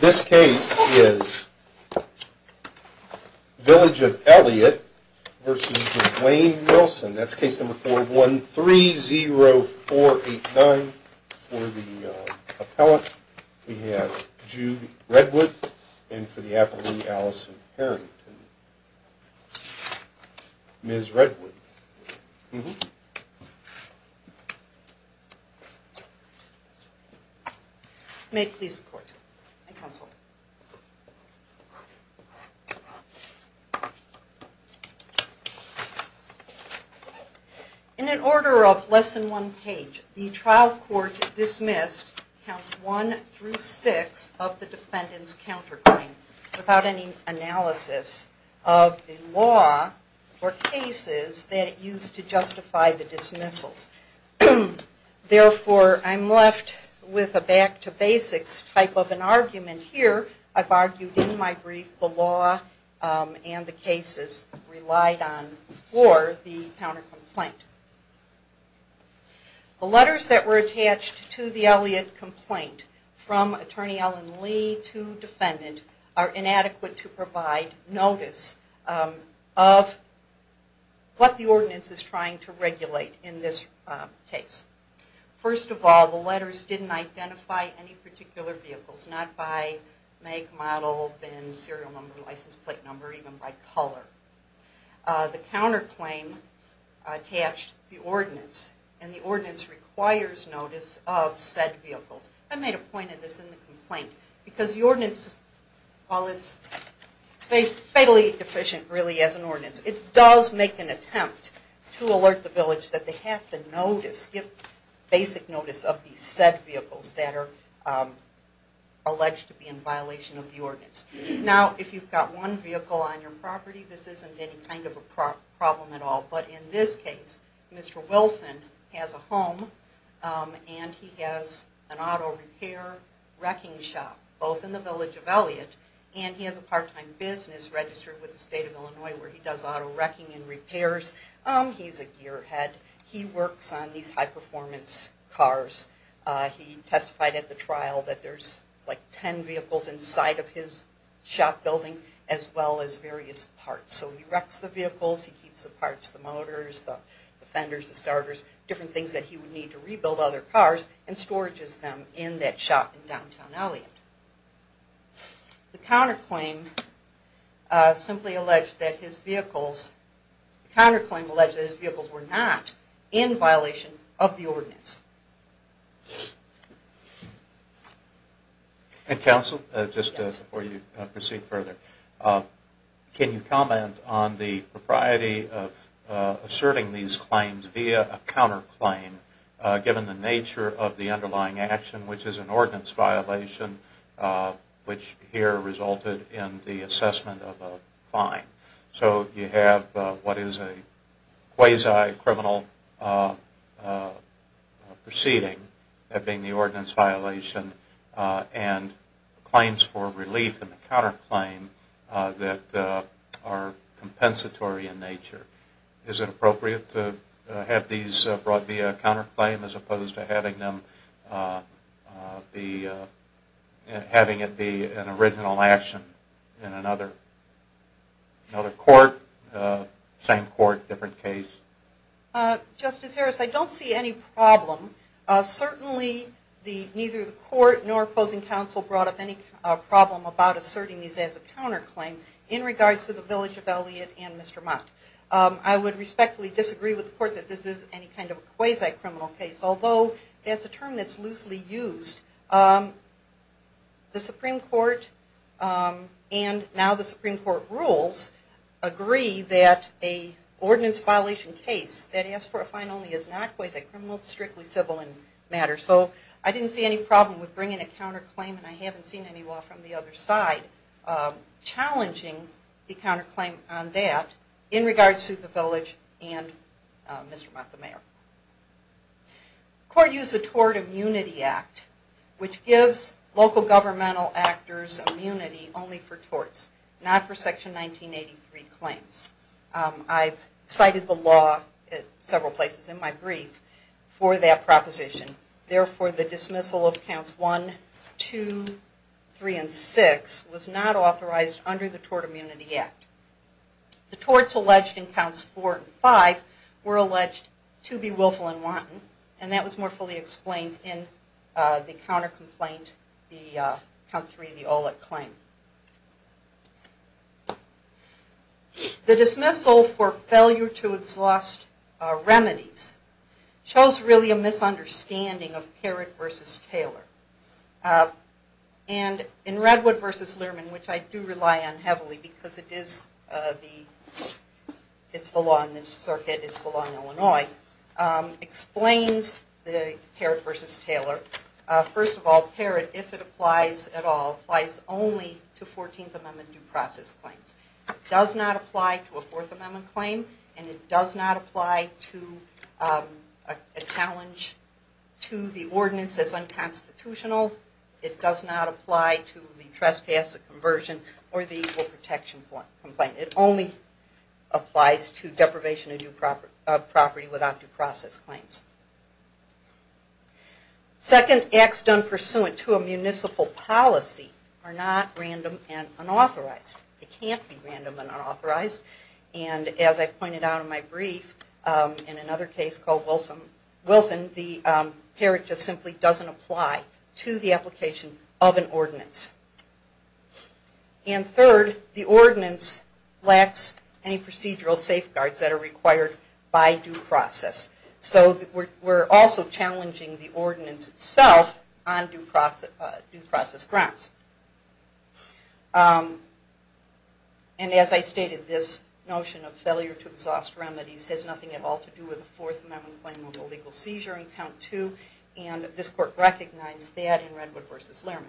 This case is Village of Elliott v. Duane Wilson. That's case number 4130489 for the appellant. We have Jude Redwood and for the appellee, Allison Harrington. Ms. Redwood. May it please the court and counsel. In an order of less than one page, the trial court dismissed counts 1 through 6 of the defendant's counterclaim without any analysis of the law or cases that it used to justify the dismissals. Therefore, I'm left with a back to basics type of an argument here. I've argued in my brief the law and the cases relied on for the countercomplaint. The letters that were attached to the Elliott complaint from Attorney Allen Lee to defendant are inadequate to provide notice of what the ordinance is trying to regulate in this case. First of all, the letters didn't identify any particular vehicles, not by make, model, bin, serial number, license plate number, even by color. The counterclaim attached the ordinance and the ordinance requires notice of said vehicles. I made a point of this in the complaint because the ordinance, while it's fatally deficient really as an ordinance, it does make an attempt to alert the village that they have to give basic notice of these said vehicles that are alleged to be in violation of the ordinance. Now, if you've got one vehicle on your property, this isn't any kind of a problem at all. But in this case, Mr. Wilson has a home and he has an auto repair wrecking shop both in the village of Elliott and he has a part-time business registered with the state of Illinois where he does auto wrecking and repairs. He's a gearhead. He works on these high-performance cars. He testified at the trial that there's like ten vehicles inside of his shop building as well as various parts. So he wrecks the vehicles, he keeps the parts, the motors, the fenders, the starters, different things that he would need to rebuild other cars and storages them in that shop in downtown Elliott. The counterclaim simply alleged that his vehicles, the counterclaim alleged that his vehicles were not in violation of the ordinance. And counsel, just before you proceed further, can you comment on the propriety of asserting these claims via a counterclaim given the nature of the underlying action which is an ordinance violation which here resulted in the assessment of a fine? So you have what is a quasi-criminal proceeding, that being the ordinance violation, and claims for relief in the counterclaim that are compensatory in nature. Is it appropriate to have these brought via a counterclaim as opposed to having it be an original action in another court, same court, different case? Justice Harris, I don't see any problem. Certainly neither the court nor opposing counsel brought up any problem about asserting these as a counterclaim in regards to the village of Elliott and Mr. Mott. I would respectfully disagree with the court that this is any kind of quasi-criminal case, although that's a term that's loosely used. The Supreme Court and now the Supreme Court rules agree that an ordinance violation case that asks for a fine only is not quasi-criminal, it's strictly civil in matter. So I didn't see any problem with bringing a counterclaim and I haven't seen any law from the other side challenging the counterclaim on that in regards to the village and Mr. Mott, the mayor. The court used the Tort Immunity Act which gives local governmental actors immunity only for torts, not for Section 1983 claims. I've cited the law at several places in my brief for that proposition. Therefore, the dismissal of Counts 1, 2, 3, and 6 was not authorized under the Tort Immunity Act. The torts alleged in Counts 4 and 5 were alleged to be willful and wanton and that was more fully explained in the counter-complaint, the Count 3, the Olick claim. The dismissal for failure to exhaust remedies shows really a misunderstanding of Parrott v. Taylor. And in Redwood v. Lerman, which I do rely on heavily because it's the law in this circuit, it's the law in Illinois, explains Parrott v. Taylor. First of all, Parrott, if it applies at all, applies only to 14th Amendment due process claims. It does not apply to a Fourth Amendment claim and it does not apply to a challenge to the ordinance as unconstitutional. It does not apply to the trespass, the conversion, or the equal protection complaint. It only applies to deprivation of property without due process claims. Second, acts done pursuant to a municipal policy are not random and unauthorized. It can't be random and unauthorized. And as I pointed out in my brief, in another case called Wilson, the Parrott just simply doesn't apply to the application of an ordinance. And third, the ordinance lacks any procedural safeguards that are required by due process. So we're also challenging the ordinance itself on due process grounds. And as I stated, this notion of failure to exhaust remedies has nothing at all to do with a Fourth Amendment claim of illegal seizure in count two, and this court recognized that in Redwood v. Lerman.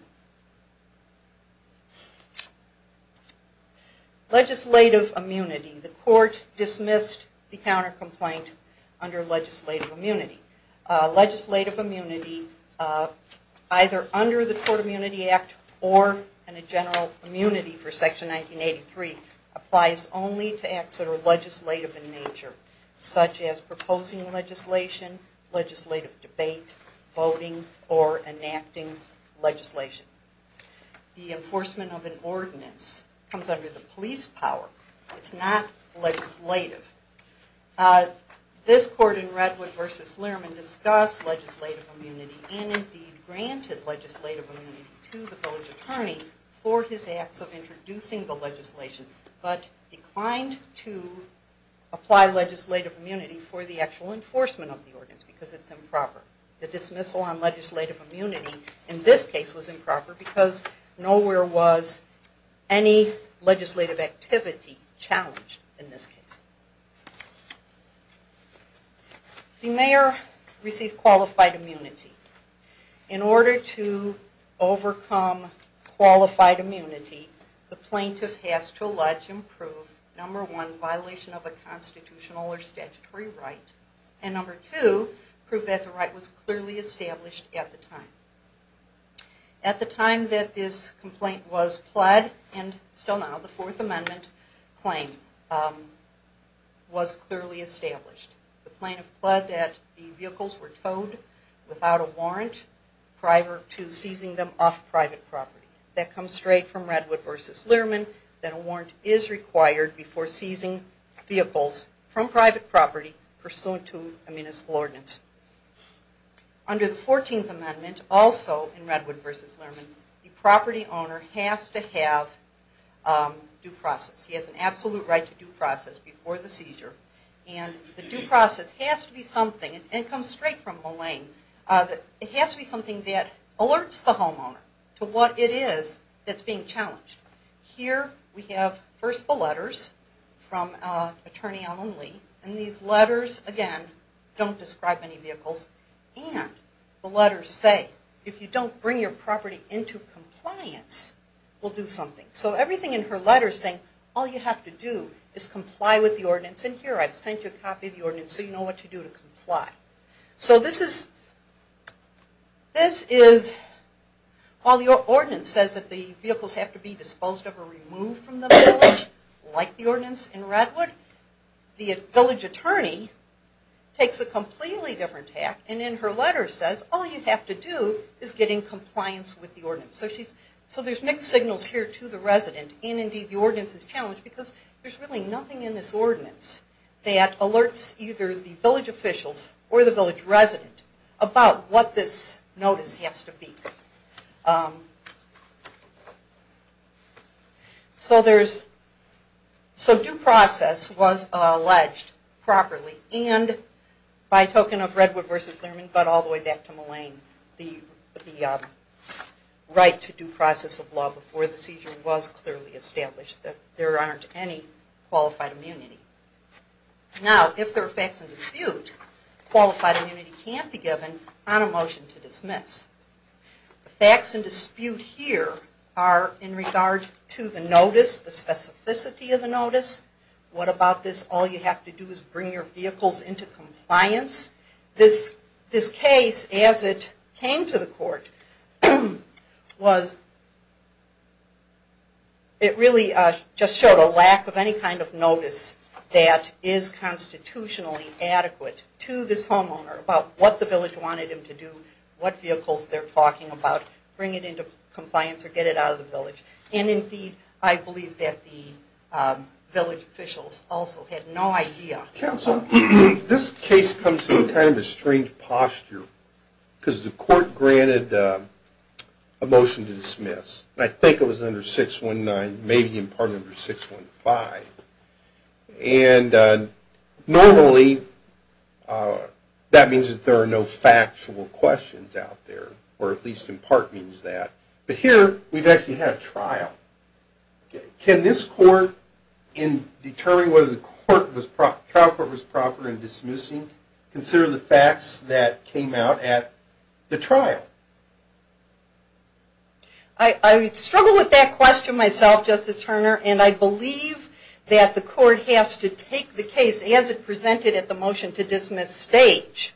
Legislative immunity. The court dismissed the counter-complaint under legislative immunity. Legislative immunity either under the Court of Immunity Act or in a general immunity for Section 1983 applies only to acts that are legislative in nature, such as proposing legislation, legislative debate, voting, or enacting legislation. The enforcement of an ordinance comes under the police power. It's not legislative. This court in Redwood v. Lerman discussed legislative immunity and indeed granted legislative immunity to the village attorney for his acts of introducing the legislation, but declined to apply legislative immunity for the actual enforcement of the ordinance because it's improper. The dismissal on legislative immunity in this case was improper because nowhere was any legislative activity challenged in this case. The mayor received qualified immunity. In order to overcome qualified immunity, the plaintiff has to allege and prove, number one, violation of a constitutional or statutory right, and number two, prove that the right was clearly established at the time. At the time that this complaint was pled, and still now, the Fourth Amendment claim was clearly established. The plaintiff pled that the vehicles were towed without a warrant prior to seizing them off private property. That comes straight from Redwood v. Lerman, that a warrant is required before seizing vehicles from private property pursuant to a municipal ordinance. Under the Fourteenth Amendment, also in Redwood v. Lerman, the property owner has to have due process. He has an absolute right to due process before the seizure, and the due process has to be something that alerts the homeowner to what it is that's being challenged. Here we have, first, the letters from Attorney Ellen Lee. These letters, again, don't describe any vehicles. And the letters say, if you don't bring your property into compliance, we'll do something. So everything in her letter is saying, all you have to do is comply with the ordinance. And here, I've sent you a copy of the ordinance so you know what to do to comply. So this is, while the ordinance says that the vehicles have to be disposed of or removed from the village, like the ordinance in Redwood, the village attorney takes a completely different tack, and in her letter says, all you have to do is get in compliance with the ordinance. So there's mixed signals here to the resident, and indeed the ordinance is challenged because there's really nothing in this ordinance that alerts either the village officials or the village resident about what this notice has to be. So due process was alleged properly, and by token of Redwood v. Lerman, but all the way back to Mullane, the right to due process of law before the seizure was clearly established that there aren't any qualified immunity. Now, if there are facts in dispute, qualified immunity can't be given on a motion to dismiss. The facts in dispute here are in regard to the notice, the specificity of the notice, what about this all you have to do is bring your vehicles into compliance. This case, as it came to the court, was, it really just showed a lack of any kind of notice that is constitutionally adequate to this homeowner about what the village wanted him to do, what vehicles they're talking about, bring it into compliance or get it out of the village. And indeed, I believe that the village officials also had no idea. Counsel, this case comes in kind of a strange posture, because the court granted a motion to dismiss. I think it was under 619, maybe in part under 615. And normally, that means that there are no factual questions out there, or at least in part means that. But here, we've actually had a trial. Can this court, in determining whether the trial court was proper in dismissing, consider the facts that came out at the trial? I struggle with that question myself, Justice Herner, and I believe that the court has to take the case as it presented at the motion to dismiss stage.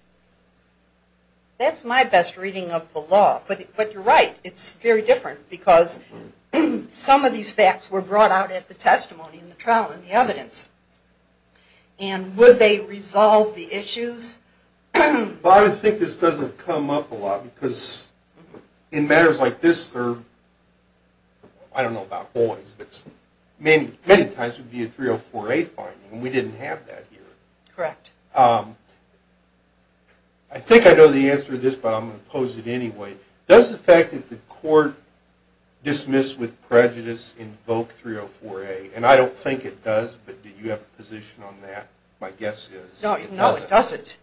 That's my best reading of the law. But you're right, it's very different, because some of these facts were brought out at the testimony in the trial and the evidence. And would they resolve the issues? But I think this doesn't come up a lot, because in matters like this, I don't know about boys, but many times it would be a 304A finding, and we didn't have that here. Correct. I think I know the answer to this, but I'm going to pose it anyway. Does the fact that the court dismissed with prejudice invoke 304A? And I don't think it does, but do you have a position on that? My guess is it doesn't.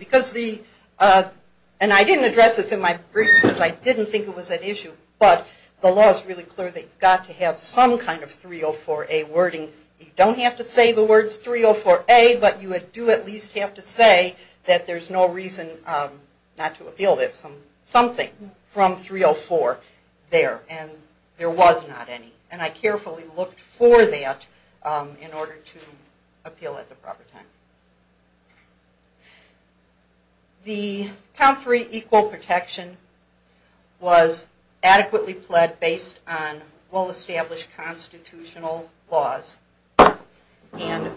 It doesn't. And I didn't address this in my brief, because I didn't think it was an issue, but the law is really clear that you've got to have some kind of 304A wording. You don't have to say the words 304A, but you do at least have to say that there's no reason not to appeal this. Something from 304 there, and there was not any. And I carefully looked for that in order to appeal at the proper time. The count three equal protection was adequately pled based on well-established constitutional laws. And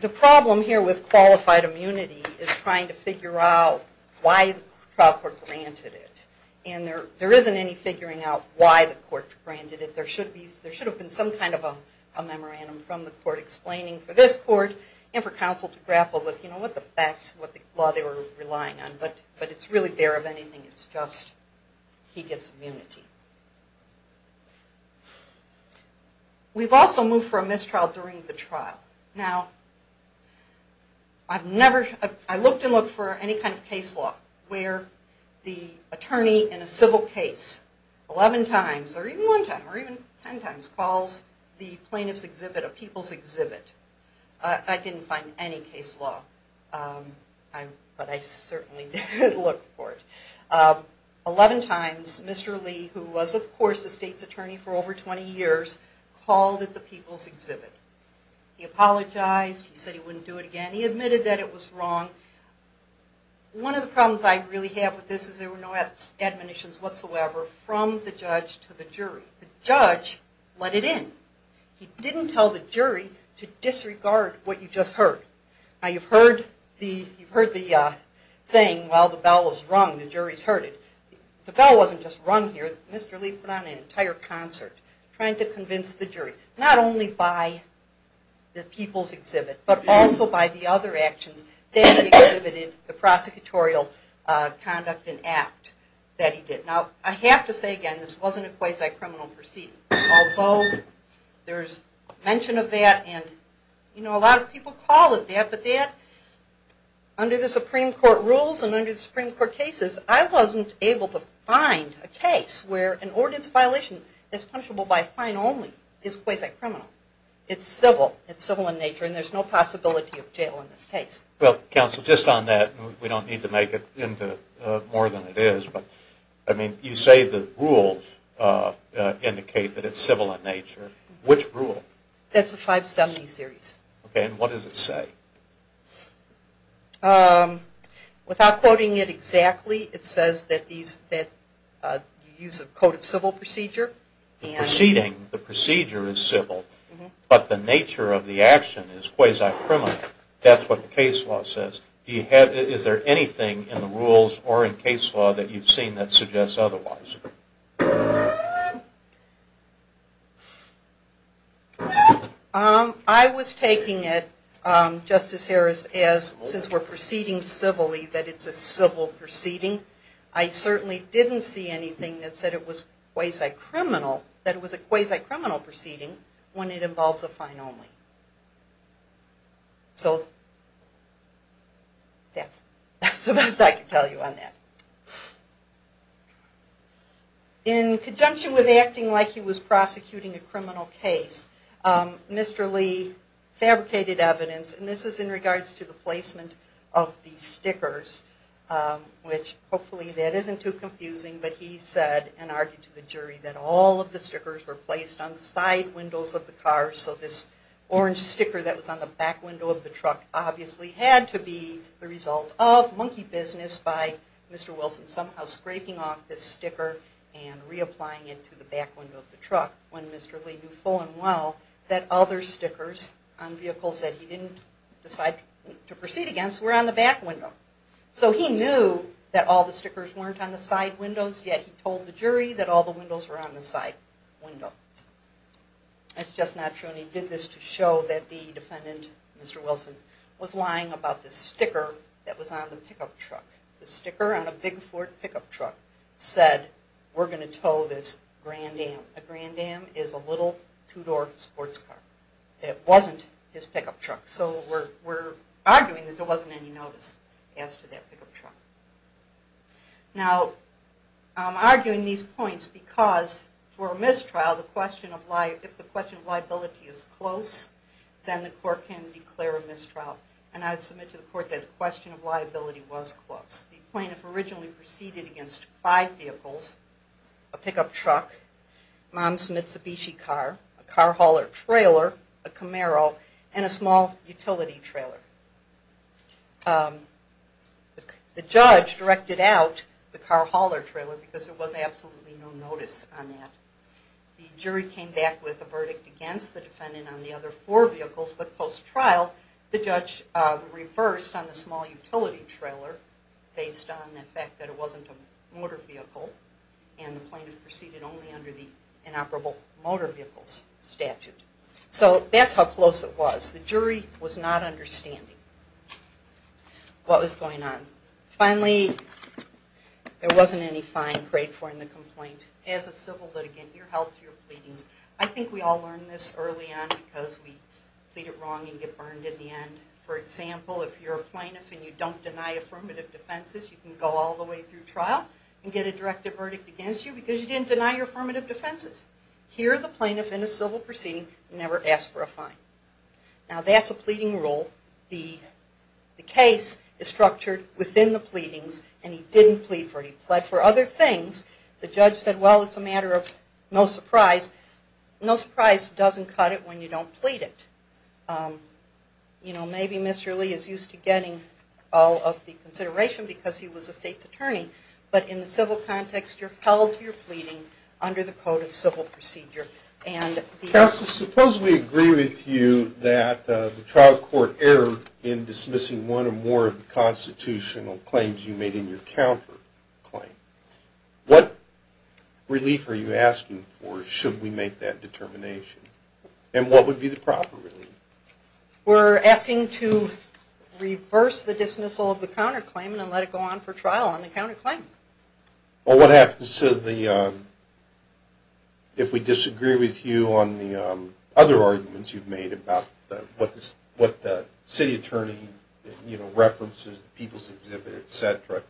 the problem here with qualified immunity is trying to figure out why the trial court granted it. And there isn't any figuring out why the court granted it. There should have been some kind of a memorandum from the court explaining for this court and for counsel to grapple with what the facts, what the law they were relying on. But it's really there of anything. It's just he gets immunity. We've also moved for a mistrial during the trial. Now I've never, I looked and looked for any kind of case law where the attorney in a civil case 11 times or even 10 times calls the plaintiff's exhibit a people's exhibit. I didn't find any case law, but I certainly did look for it. 11 times Mr. Lee, who was of course the state's attorney for over 20 years, called it the people's exhibit. He apologized. He said he wouldn't do it again. He admitted that it was wrong. One of the problems I really have with this is there were no admonitions whatsoever from the judge to the jury. The judge let it in. He didn't tell the jury to disregard what you just heard. Now you've heard the saying, well the bell was rung, the jury's heard it. The bell wasn't just rung here. Mr. Lee put on an entire concert trying to convince the jury, not only by the people's exhibit, but also by the other actions that he exhibited, the prosecutorial conduct and act that he did. Now I have to say again, this wasn't a quasi-criminal proceeding. Although there's mention of that and a lot of people call it that, but that, under the Supreme Court rules and under the Supreme Court cases, I wasn't able to find a case where an ordinance violation that's punishable by a fine only is quasi-criminal. It's civil. It's civil in nature and there's no possibility of jail in this case. Well, counsel, just on that, we don't need to make it into more than it is, but you say the rules indicate that it's civil in nature. Which rule? That's the 570 series. Okay, and what does it say? Without quoting it exactly, it says that you use a coded civil procedure. Proceeding, the procedure is civil, but the nature of the action is quasi-criminal. That's what the case law says. Is there anything in the rules or in case law that you've seen that suggests otherwise? I was taking it, Justice Harris, as since we're proceeding civilly, that it's a civil proceeding. I certainly didn't see anything that said it was quasi-criminal, that it was a quasi-criminal proceeding when it involves a fine only. So, that's the best I can tell you on that. In conjunction with acting like he was prosecuting a criminal case, Mr. Lee fabricated evidence, and this is in regards to the placement of the stickers. Which, hopefully that isn't too confusing, but he said and argued to the jury that all of the stickers were placed on side windows of the car, so this orange sticker that was on the back window of the truck obviously had to be the result of monkey business by Mr. Wilson somehow scraping off this sticker and reapplying it to the back window of the truck when Mr. Lee knew full and well that other stickers on vehicles that he didn't decide to proceed against were on the back window. So, he knew that all the stickers weren't on the side windows, yet he told the jury that all the windows were on the side windows. That's just not true, and he did this to show that the defendant, Mr. Wilson, was lying about this sticker that was on the pickup truck. The sticker on a big Ford pickup truck said, we're going to tow this Grand Am. A Grand Am is a little two-door sports car. It wasn't his pickup truck, so we're arguing that there wasn't any notice as to that pickup truck. Now, I'm arguing these points because for a mistrial, if the question of liability is close, then the court can declare a mistrial, and I would submit to the court that the question of liability was close. The plaintiff originally proceeded against five vehicles, a pickup truck, Mom's Mitsubishi car, a car hauler trailer, a Camaro, and a small utility trailer. The judge directed out the car hauler trailer because there was absolutely no notice on that. The jury came back with a verdict against the defendant on the other four vehicles, but post-trial, the judge reversed on the small utility trailer based on the fact that it wasn't a motor vehicle, and the plaintiff proceeded only under the inoperable motor vehicles statute. So that's how close it was. The jury was not understanding what was going on. Finally, there wasn't any fine paid for in the complaint. As a civil litigant, you're held to your pleadings. I think we all learned this early on because we plead it wrong and get burned in the end. For example, if you're a plaintiff and you don't deny affirmative defenses, you can go all the way through trial and get a directive verdict against you because you didn't deny your affirmative defenses. Here, the plaintiff in a civil proceeding never asked for a fine. Now that's a pleading rule. The case is structured within the pleadings, and he didn't plead for it. He plead for other things. The judge said, well, it's a matter of no surprise. No surprise doesn't cut it when you don't plead it. Maybe Mr. Lee is used to getting all of the consideration because he was a state's attorney, but in the civil context, you're held to your pleading under the Code of Civil Procedure. Counsel, suppose we agree with you that the trial court erred in dismissing one or more of the constitutional claims you made in your counterclaim. What relief are you asking for should we make that determination, and what would be the proper relief? We're asking to reverse the dismissal of the counterclaim and let it go on for trial on the counterclaim. Well, what happens if we disagree with you on the other arguments you've made about what the city attorney references, the people's exhibit, etc.?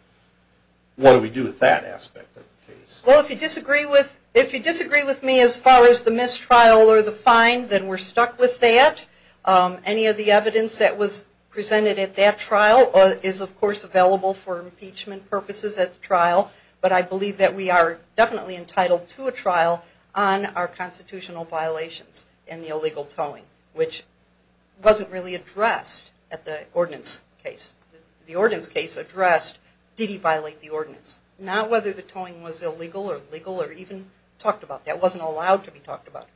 What do we do with that aspect of the case? Well, if you disagree with me as far as the mistrial or the fine, then we're stuck with that. Any of the evidence that was presented at that trial is, of course, available for impeachment purposes at the trial. But I believe that we are definitely entitled to a trial on our constitutional violations in the illegal towing, which wasn't really addressed at the ordinance case. The ordinance case addressed, did he violate the ordinance? Not whether the towing was illegal or legal or even talked about. That wasn't allowed to be talked about.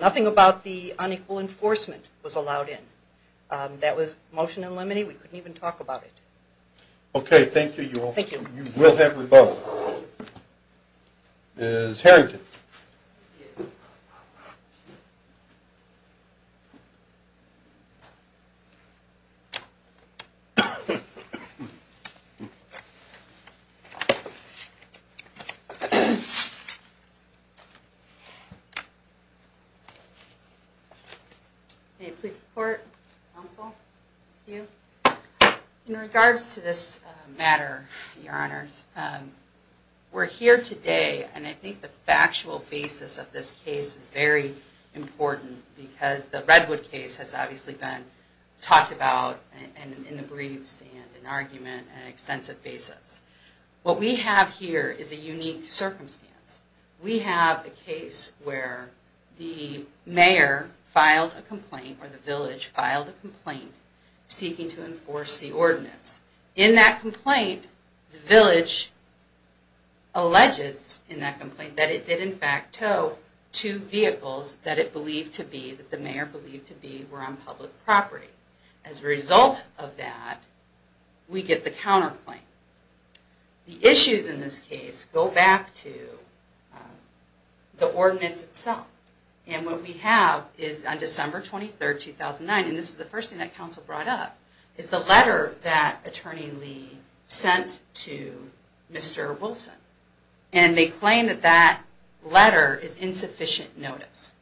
Nothing about the unequal enforcement was allowed in. That was motion and lemony. We couldn't even talk about it. Okay, thank you. You will have your vote. Ms. Harrington. May it please the court, counsel, thank you. In regards to this matter, your honors, we're here today and I think the factual basis of this case is very important because the Redwood case has obviously been talked about in the briefs and in argument on an extensive basis. What we have here is a unique circumstance. We have a case where the mayor filed a complaint or the village filed a complaint seeking to enforce the ordinance. In that complaint, the village alleges in that complaint that it did in fact tow two vehicles that it believed to be, that the mayor believed to be, were on public property. As a result of that, we get the counterclaim. The issues in this case go back to the ordinance itself. And what we have is on December 23, 2009, and this is the first thing that counsel brought up, is the letter that attorney Lee sent to Mr. Wilson. And they claim that that letter is insufficient notice.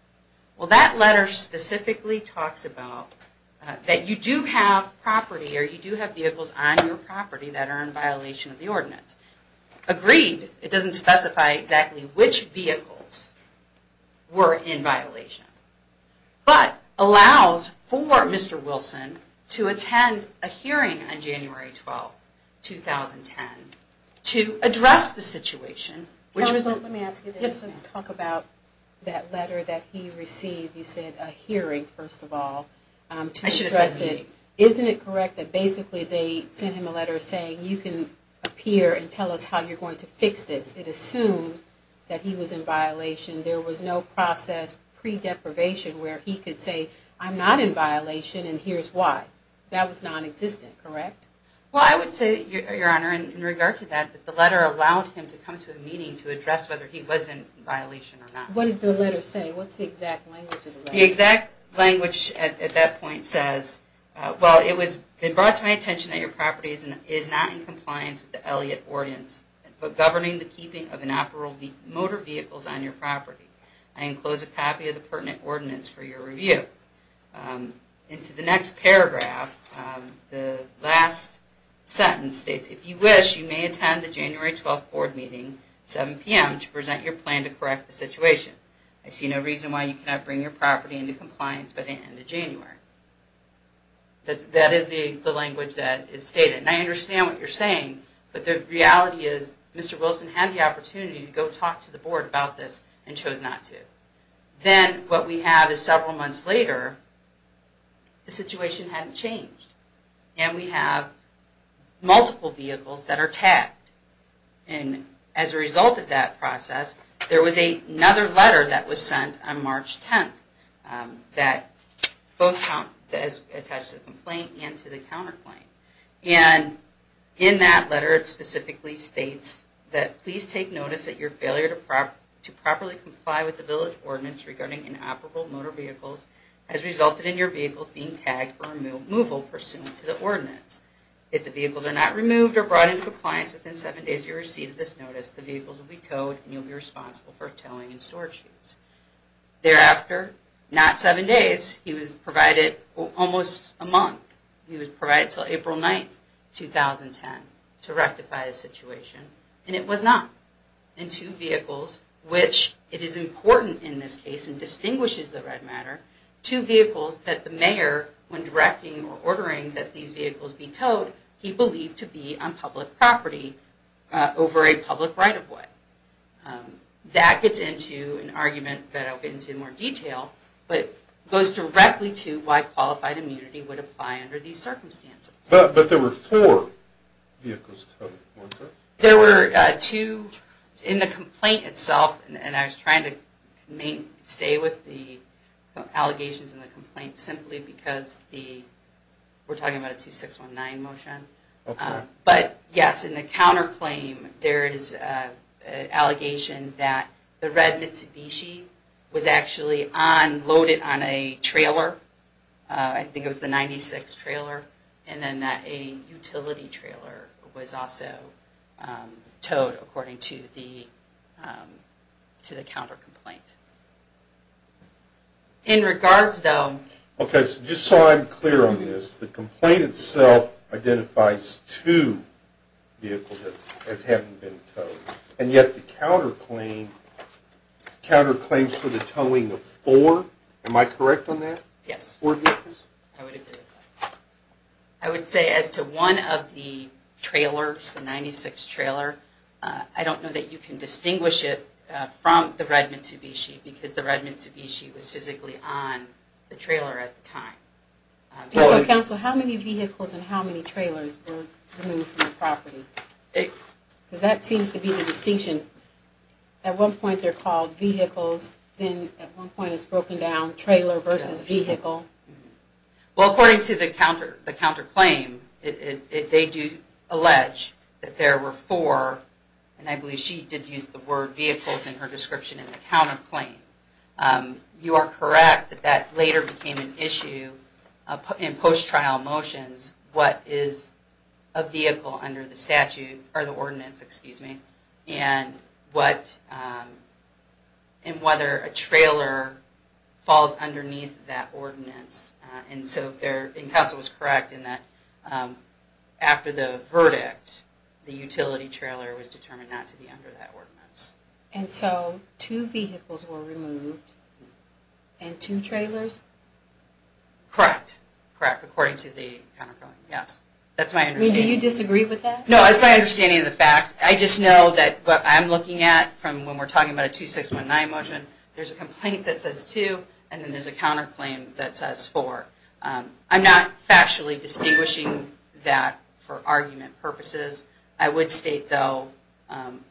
Well, that letter specifically talks about that you do have property or you do have vehicles on your property that are in violation of the ordinance. Agreed, it doesn't specify exactly which vehicles were in violation, but allows for Mr. Wilson to attend a hearing on January 12, 2010 to address the situation. Counsel, let me ask you this. Let's talk about that letter that he received. You said a hearing, first of all, to address it. Isn't it correct that basically they sent him a letter saying you can appear and tell us how you're going to fix this? It assumed that he was in violation. There was no process pre-deprivation where he could say I'm not in violation and here's why. That was non-existent, correct? Well, I would say, Your Honor, in regard to that, that the letter allowed him to come to a meeting to address whether he was in violation or not. What did the letter say? What's the exact language of the letter? The exact language at that point says, well, it was brought to my attention that your property is not in compliance with the Elliott Ordinance, but governing the keeping of inoperable motor vehicles on your property. I enclose a copy of the pertinent ordinance for your review. Into the next paragraph, the last sentence states, if you wish, you may attend the January 12th board meeting at 7 p.m. to present your plan to correct the situation. I see no reason why you cannot bring your property into compliance by the end of January. That is the language that is stated. And I understand what you're saying, but the reality is Mr. Wilson had the opportunity to go talk to the board about this and chose not to. Then what we have is several months later, the situation hadn't changed. And we have multiple vehicles that are tagged. And as a result of that process, there was another letter that was sent on March 10th that both attached to the complaint and to the counterclaim. And in that letter, it specifically states that please take notice that your failure to properly comply with the village ordinance regarding inoperable motor vehicles has resulted in your vehicles being tagged for removal pursuant to the ordinance. If the vehicles are not removed or brought into compliance within seven days of your receipt of this notice, the vehicles will be towed and you'll be responsible for towing and storage. Thereafter, not seven days, he was provided almost a month. He was provided until April 9th, 2010 to rectify the situation. And it was not. And two vehicles, which it is important in this case and distinguishes the red matter, two vehicles that the mayor, when directing or ordering that these vehicles be towed, he believed to be on public property over a public right of way. That gets into an argument that I'll get into in more detail, but goes directly to why qualified immunity would apply under these circumstances. But there were four vehicles towed. There were two in the complaint itself. And I was trying to stay with the allegations in the complaint simply because we're talking about a 2619 motion. But yes, in the counterclaim, there is an allegation that the red Mitsubishi was actually loaded on a trailer. I think it was the 96 trailer. And then that a utility trailer was also towed according to the counter complaint. In regards, though... Just so I'm clear on this, the complaint itself identifies two vehicles as having been towed. And yet the counterclaims for the towing of four, am I correct on that? Yes. Four vehicles? I would agree with that. I would say as to one of the trailers, the 96 trailer, I don't know that you can distinguish it from the red Mitsubishi because the red Mitsubishi was physically on the trailer at the time. Counsel, how many vehicles and how many trailers were removed from the property? Because that seems to be the distinction. At one point, they're called vehicles. Then at one point, it's broken down trailer versus vehicle. Well, according to the counterclaim, they do allege that there were four. And I believe she did use the word vehicles in her description in the counterclaim. You are correct that that later became an issue in post-trial motions, what is a vehicle under the statute, or the ordinance, excuse me, and whether a trailer falls underneath that ordinance. Counsel was correct in that after the verdict, the utility trailer was determined not to be under that ordinance. And so two vehicles were removed and two trailers? Correct. Correct, according to the counterclaim, yes. That's my understanding. Do you disagree with that? No, that's my understanding of the facts. I just know that what I'm looking at from when we're talking about a 2619 motion, there's a complaint that says two, and then there's a counterclaim that says four. I'm not factually distinguishing that for argument purposes. I would state, though,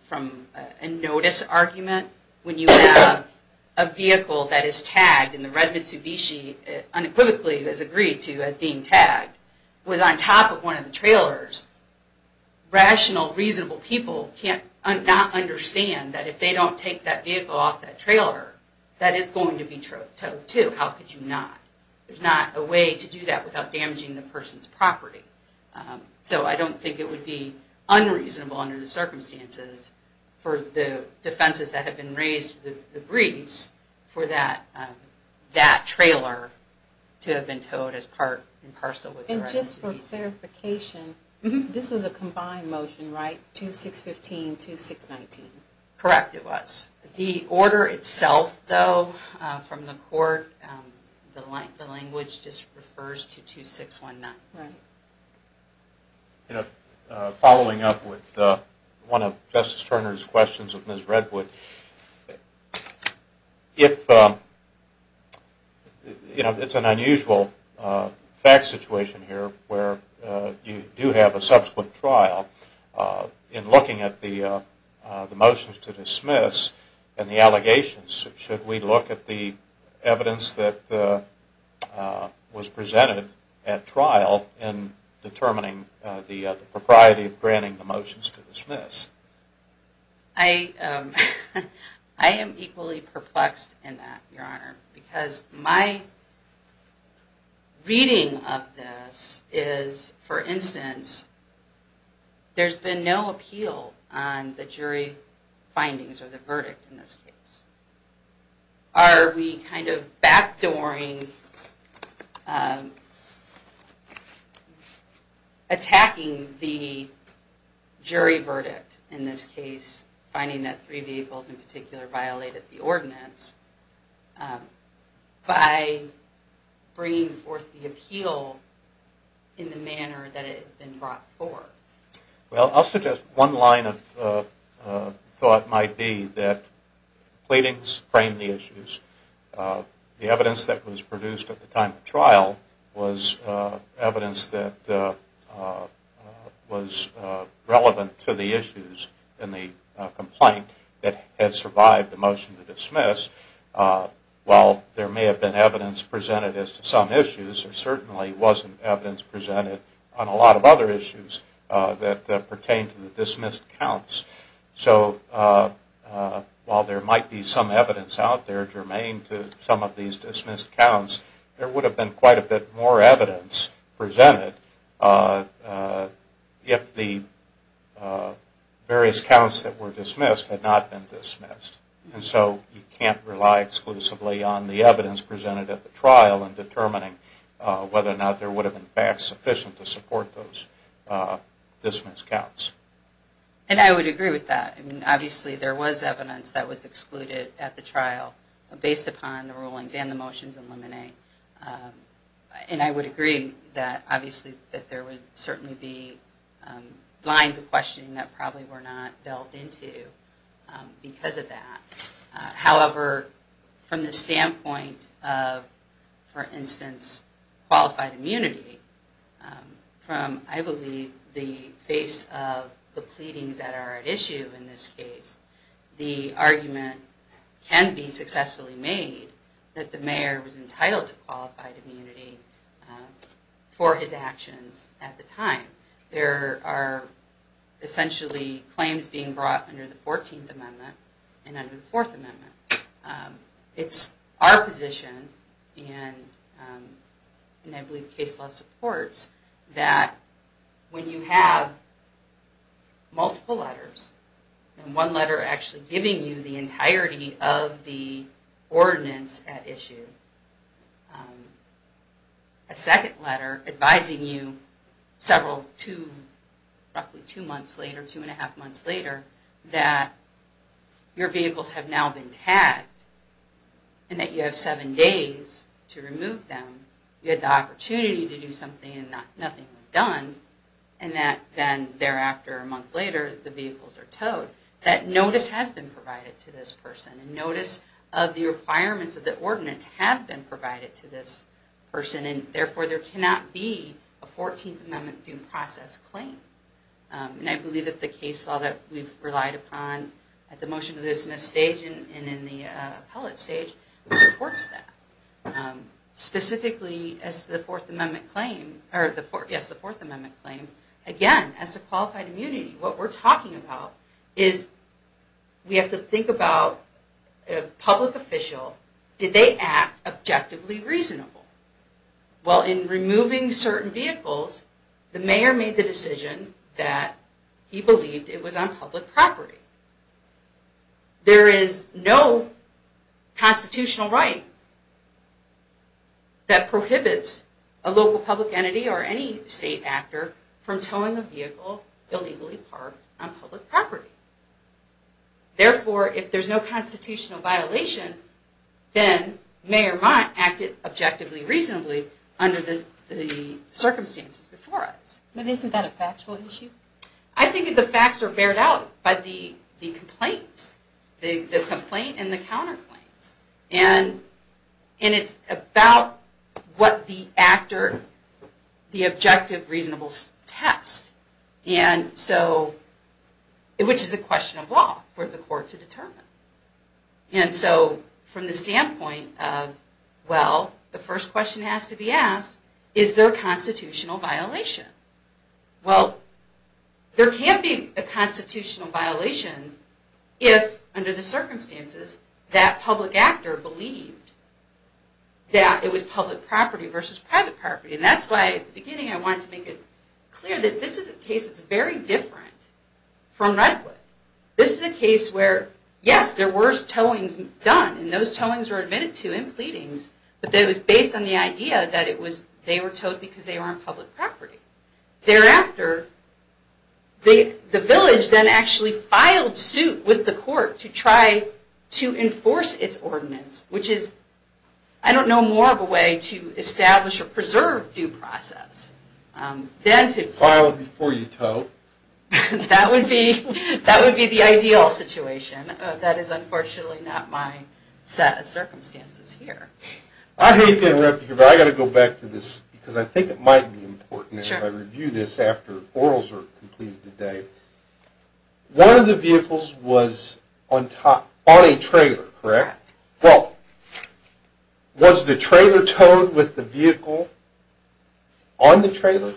from a notice argument, when you have a vehicle that is tagged in the red Mitsubishi unequivocally as agreed to as being tagged, was on top of one of the trailers, rational, reasonable people can't not understand that if they don't take that vehicle off that trailer, that it's going to be towed too. How could you not? There's not a way to do that without damaging the person's property. So I don't think it would be unreasonable under the circumstances for the defenses that have been raised, the briefs, for that trailer to have been towed as part and parcel with the red Mitsubishi. Just for clarification, this was a combined motion, right? 2615, 2619? Correct, it was. The order itself, though, from the court, the language just refers to 2619. Right. Following up with one of Justice Turner's questions of Ms. Redwood, if, you know, it's an unusual fact situation here where you do have a subsequent trial, in looking at the motions to dismiss and the allegations, should we look at the evidence that was presented at trial in determining the propriety of granting the motions to dismiss? I am equally perplexed in that, Your Honor, because my reading of this is, for instance, there's been no appeal on the jury findings or the verdict in this case. Are we kind of backdooring attacking the jury verdict in this case, finding that three vehicles in particular violated the ordinance, by bringing forth the appeal in the manner that it has been brought forth? Well, I'll suggest one line of thought might be that pleadings frame the issues. The evidence that was produced at the time of trial was evidence that was relevant to the issues in the complaint that had survived the motion to dismiss. While there may have been evidence presented as to some issues, there certainly wasn't evidence presented on a lot of other issues that pertain to the dismissed counts. So, while there might be some evidence out there germane to some of these dismissed counts, there would have been quite a bit more evidence presented if the various counts that were dismissed had not been dismissed. And so, you can't rely exclusively on the evidence presented at the trial in determining whether or not there would have been facts sufficient to support those dismissed counts. And I would agree with that. I mean, obviously, there was evidence that was excluded at the trial based upon the rulings and the motions in Limine. And I would agree that, obviously, that there would certainly be lines of questioning that probably were not delved into because of that. However, from the standpoint of, for instance, qualified immunity, from, I believe, the face of the pleadings that are at issue in this case, the argument can be successfully made that the mayor was entitled to qualified immunity for his actions at the time. There are essentially claims being brought under the 14th Amendment and under the 4th Amendment. It's our position, and I believe case law supports, that when you have multiple letters, and one letter actually giving you the entirety of the ordinance at issue, and a second letter advising you several, roughly two months later, two and a half months later, that your vehicles have now been tagged and that you have seven days to remove them, you had the opportunity to do something and nothing was done, and that then thereafter, a month later, the vehicles are towed, that notice has been provided to this person. The notice of the requirements of the ordinance have been provided to this person, and therefore there cannot be a 14th Amendment due process claim. And I believe that the case law that we've relied upon at the motion to dismiss stage and in the appellate stage supports that. Specifically, as to the 4th Amendment claim, again, as to qualified immunity, what we're talking about is we have to think about a public official, did they act objectively reasonable? Well, in removing certain vehicles, the mayor made the decision that he believed it was on public property. There is no constitutional right that prohibits a local public entity or any state actor from towing a vehicle illegally parked on public property. Therefore, if there's no constitutional violation, then Mayor Mott acted objectively reasonably under the circumstances before us. But isn't that a factual issue? I think the facts are bared out by the complaints, the complaint and the counterclaims. And it's about what the actor, the objective reasonable test, which is a question of law for the court to determine. And so, from the standpoint of, well, the first question has to be asked, is there a constitutional violation? Well, there can't be a constitutional violation if, under the circumstances, that public actor believed that it was public property versus private property. And that's why, at the beginning, I wanted to make it clear that this is a case that's very different from Redwood. This is a case where, yes, there were towings done, and those towings were admitted to in pleadings, but it was based on the idea that they were towed because they were on public property. Thereafter, the village then actually filed suit with the court to try to enforce its ordinance, which is, I don't know, more of a way to establish or preserve due process than to... File it before you tow. That would be the ideal situation. That is, unfortunately, not my set of circumstances here. I hate to interrupt you, but I've got to go back to this because I think it might be important as I review this after orals are completed today. One of the vehicles was on a trailer, correct? Correct. Well, was the trailer towed with the vehicle on the trailer?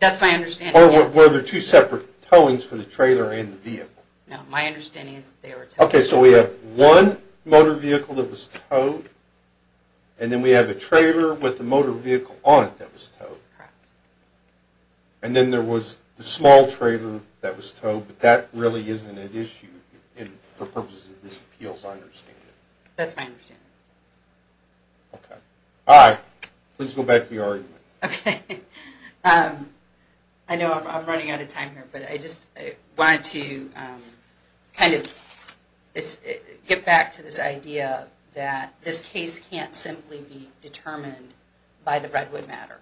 That's my understanding, yes. Or were there two separate towings for the trailer and the vehicle? No, my understanding is that they were towed. Okay, so we have one motor vehicle that was towed, and then we have a trailer with the motor vehicle on it that was towed. Correct. And then there was the small trailer that was towed, but that really isn't an issue for purposes of this appeal, as I understand it. That's my understanding. Okay. All right, please go back to your argument. Okay. I know I'm running out of time here, but I just wanted to kind of get back to this idea that this case can't simply be determined by the Redwood matter,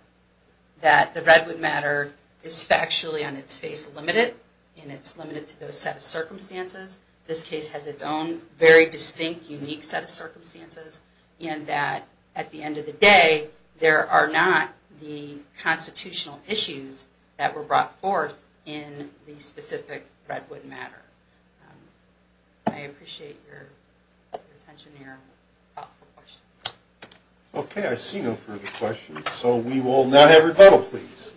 that the Redwood matter is factually on its face limited, and it's limited to those set of circumstances. This case has its own very distinct, unique set of circumstances, and that at the end of the day, there are not the constitutional issues that were brought forth in the specific Redwood matter. I appreciate your attention here and thoughtful questions. Okay, I see no further questions. So we will now have rebuttal, please.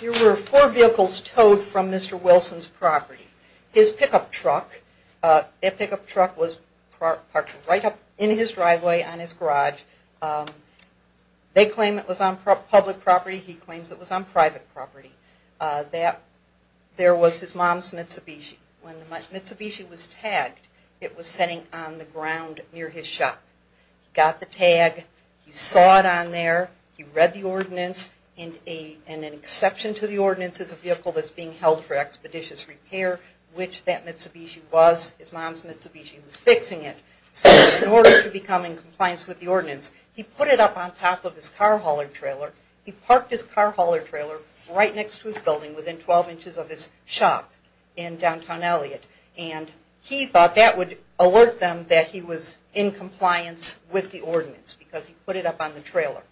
Here were four vehicles towed from Mr. Wilson's property. His pickup truck, that pickup truck was parked right up in his driveway on his garage. They claim it was on public property. He claims it was on private property. There was his mom's Mitsubishi. When the Mitsubishi was tagged, it was sitting on the ground near his shop. He got the tag, he saw it on there, he read the ordinance, and an exception to the ordinance is a vehicle that's being held for expeditious repair, which that Mitsubishi was. His mom's Mitsubishi was fixing it. So in order to become in compliance with the ordinance, he put it up on top of his car hauler trailer. He parked his car hauler trailer right next to his building within 12 inches of his shop in downtown Elliott. And he thought that would alert them that he was in compliance with the ordinance because he put it up on the trailer.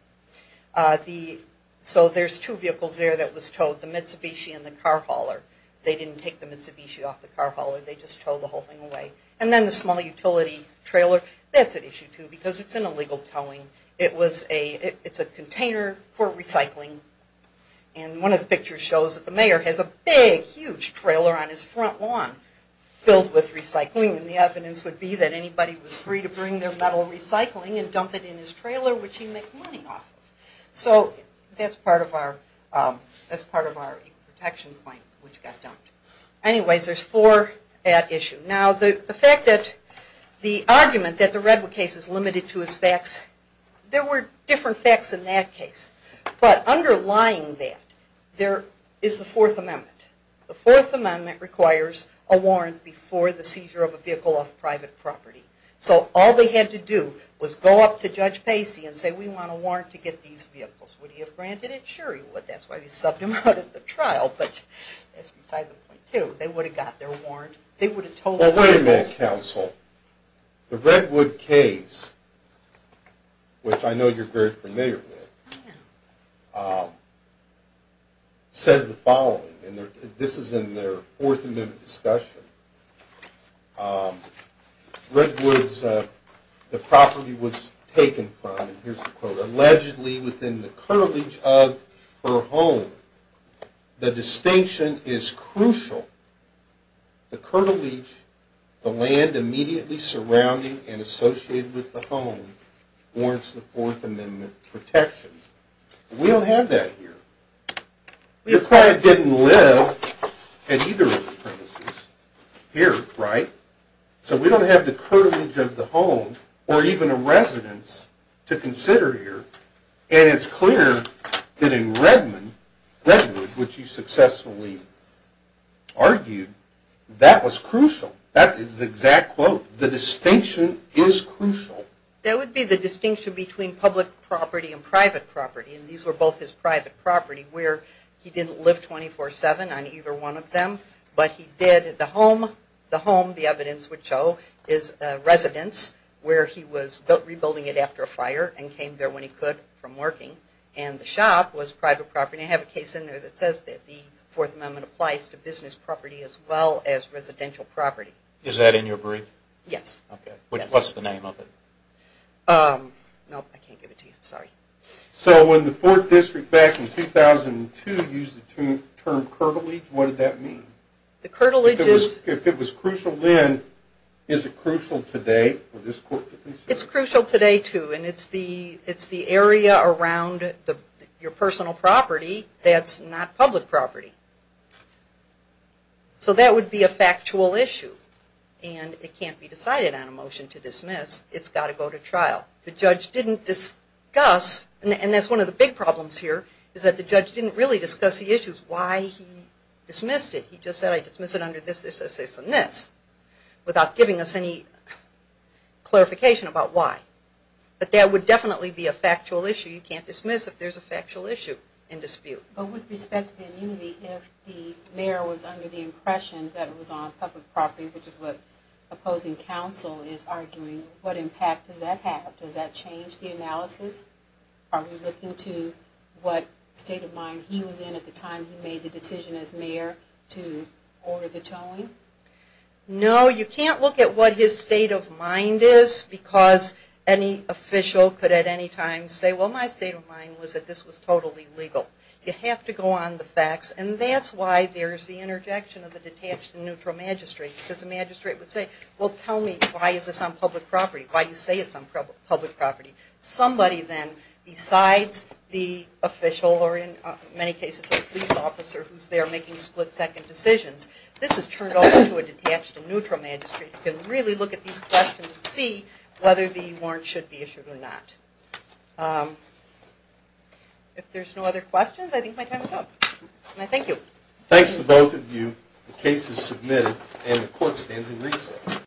So there's two vehicles there that was towed, the Mitsubishi and the car hauler. They didn't take the Mitsubishi off the car hauler. They just towed the whole thing away. And then the small utility trailer, that's at issue too because it's an illegal towing. It's a container for recycling. And one of the pictures shows that the mayor has a big, huge trailer on his front lawn filled with recycling. And the evidence would be that anybody was free to bring their metal recycling and dump it in his trailer, which he makes money off of. So that's part of our protection claim, which got dumped. Anyways, there's four at issue. Now, the fact that the argument that the Redwood case is limited to its facts, there were different facts in that case. But underlying that, there is the Fourth Amendment. The Fourth Amendment requires a warrant before the seizure of a vehicle off private property. So all they had to do was go up to Judge Pacey and say, we want a warrant to get these vehicles. Would he have granted it? Sure he would. That's why we subbed him out of the trial, but that's beside the point too. They would have got their warrant. Wait a minute, counsel. The Redwood case, which I know you're very familiar with, says the following. This is in their Fourth Amendment discussion. Redwood's property was taken from, and here's the quote, allegedly within the curtilage of her home. The distinction is crucial. The curtilage, the land immediately surrounding and associated with the home, warrants the Fourth Amendment protections. We don't have that here. The acquired didn't live at either of the premises here, right? So we don't have the curtilage of the home or even a residence to consider here, and it's clear that in Redwood, which you successfully argued, that was crucial. That is the exact quote. The distinction is crucial. That would be the distinction between public property and private property, and these were both his private property where he didn't live 24-7 on either one of them, but he did the home. The home, the evidence would show, is a residence where he was rebuilding it after a fire and came there when he could from working, and the shop was private property. I have a case in there that says that the Fourth Amendment applies to business property as well as residential property. Is that in your brief? Yes. Okay. What's the name of it? No, I can't give it to you. Sorry. So when the Fourth District back in 2002 used the term curtilage, what did that mean? The curtilage is... If it was crucial then, is it crucial today for this court to consider? It's crucial today too, and it's the area around your personal property that's not public property. So that would be a factual issue, and it can't be decided on a motion to dismiss. It's got to go to trial. The judge didn't discuss, and that's one of the big problems here, is that the judge didn't really discuss the issues, why he dismissed it. He just said, I dismiss it under this, this, this, this, and this, without giving us any clarification about why. But that would definitely be a factual issue. You can't dismiss if there's a factual issue in dispute. But with respect to the immunity, if the mayor was under the impression that it was on public property, which is what opposing counsel is arguing, what impact does that have? Does that change the analysis? Are we looking to what state of mind he was in at the time he made the decision as mayor to order the towing? No, you can't look at what his state of mind is, because any official could at any time say, well, my state of mind was that this was totally legal. You have to go on the facts, and that's why there's the interjection of the detached and neutral magistrate, because the magistrate would say, well, tell me, why is this on public property? Why do you say it's on public property? Somebody then, besides the official, or in many cases a police officer, who's there making split-second decisions, this is turned over to a detached and neutral magistrate who can really look at these questions and see whether the warrant should be issued or not. If there's no other questions, I think my time is up. Thank you. Thanks to both of you. The case is submitted, and the court stands in recess.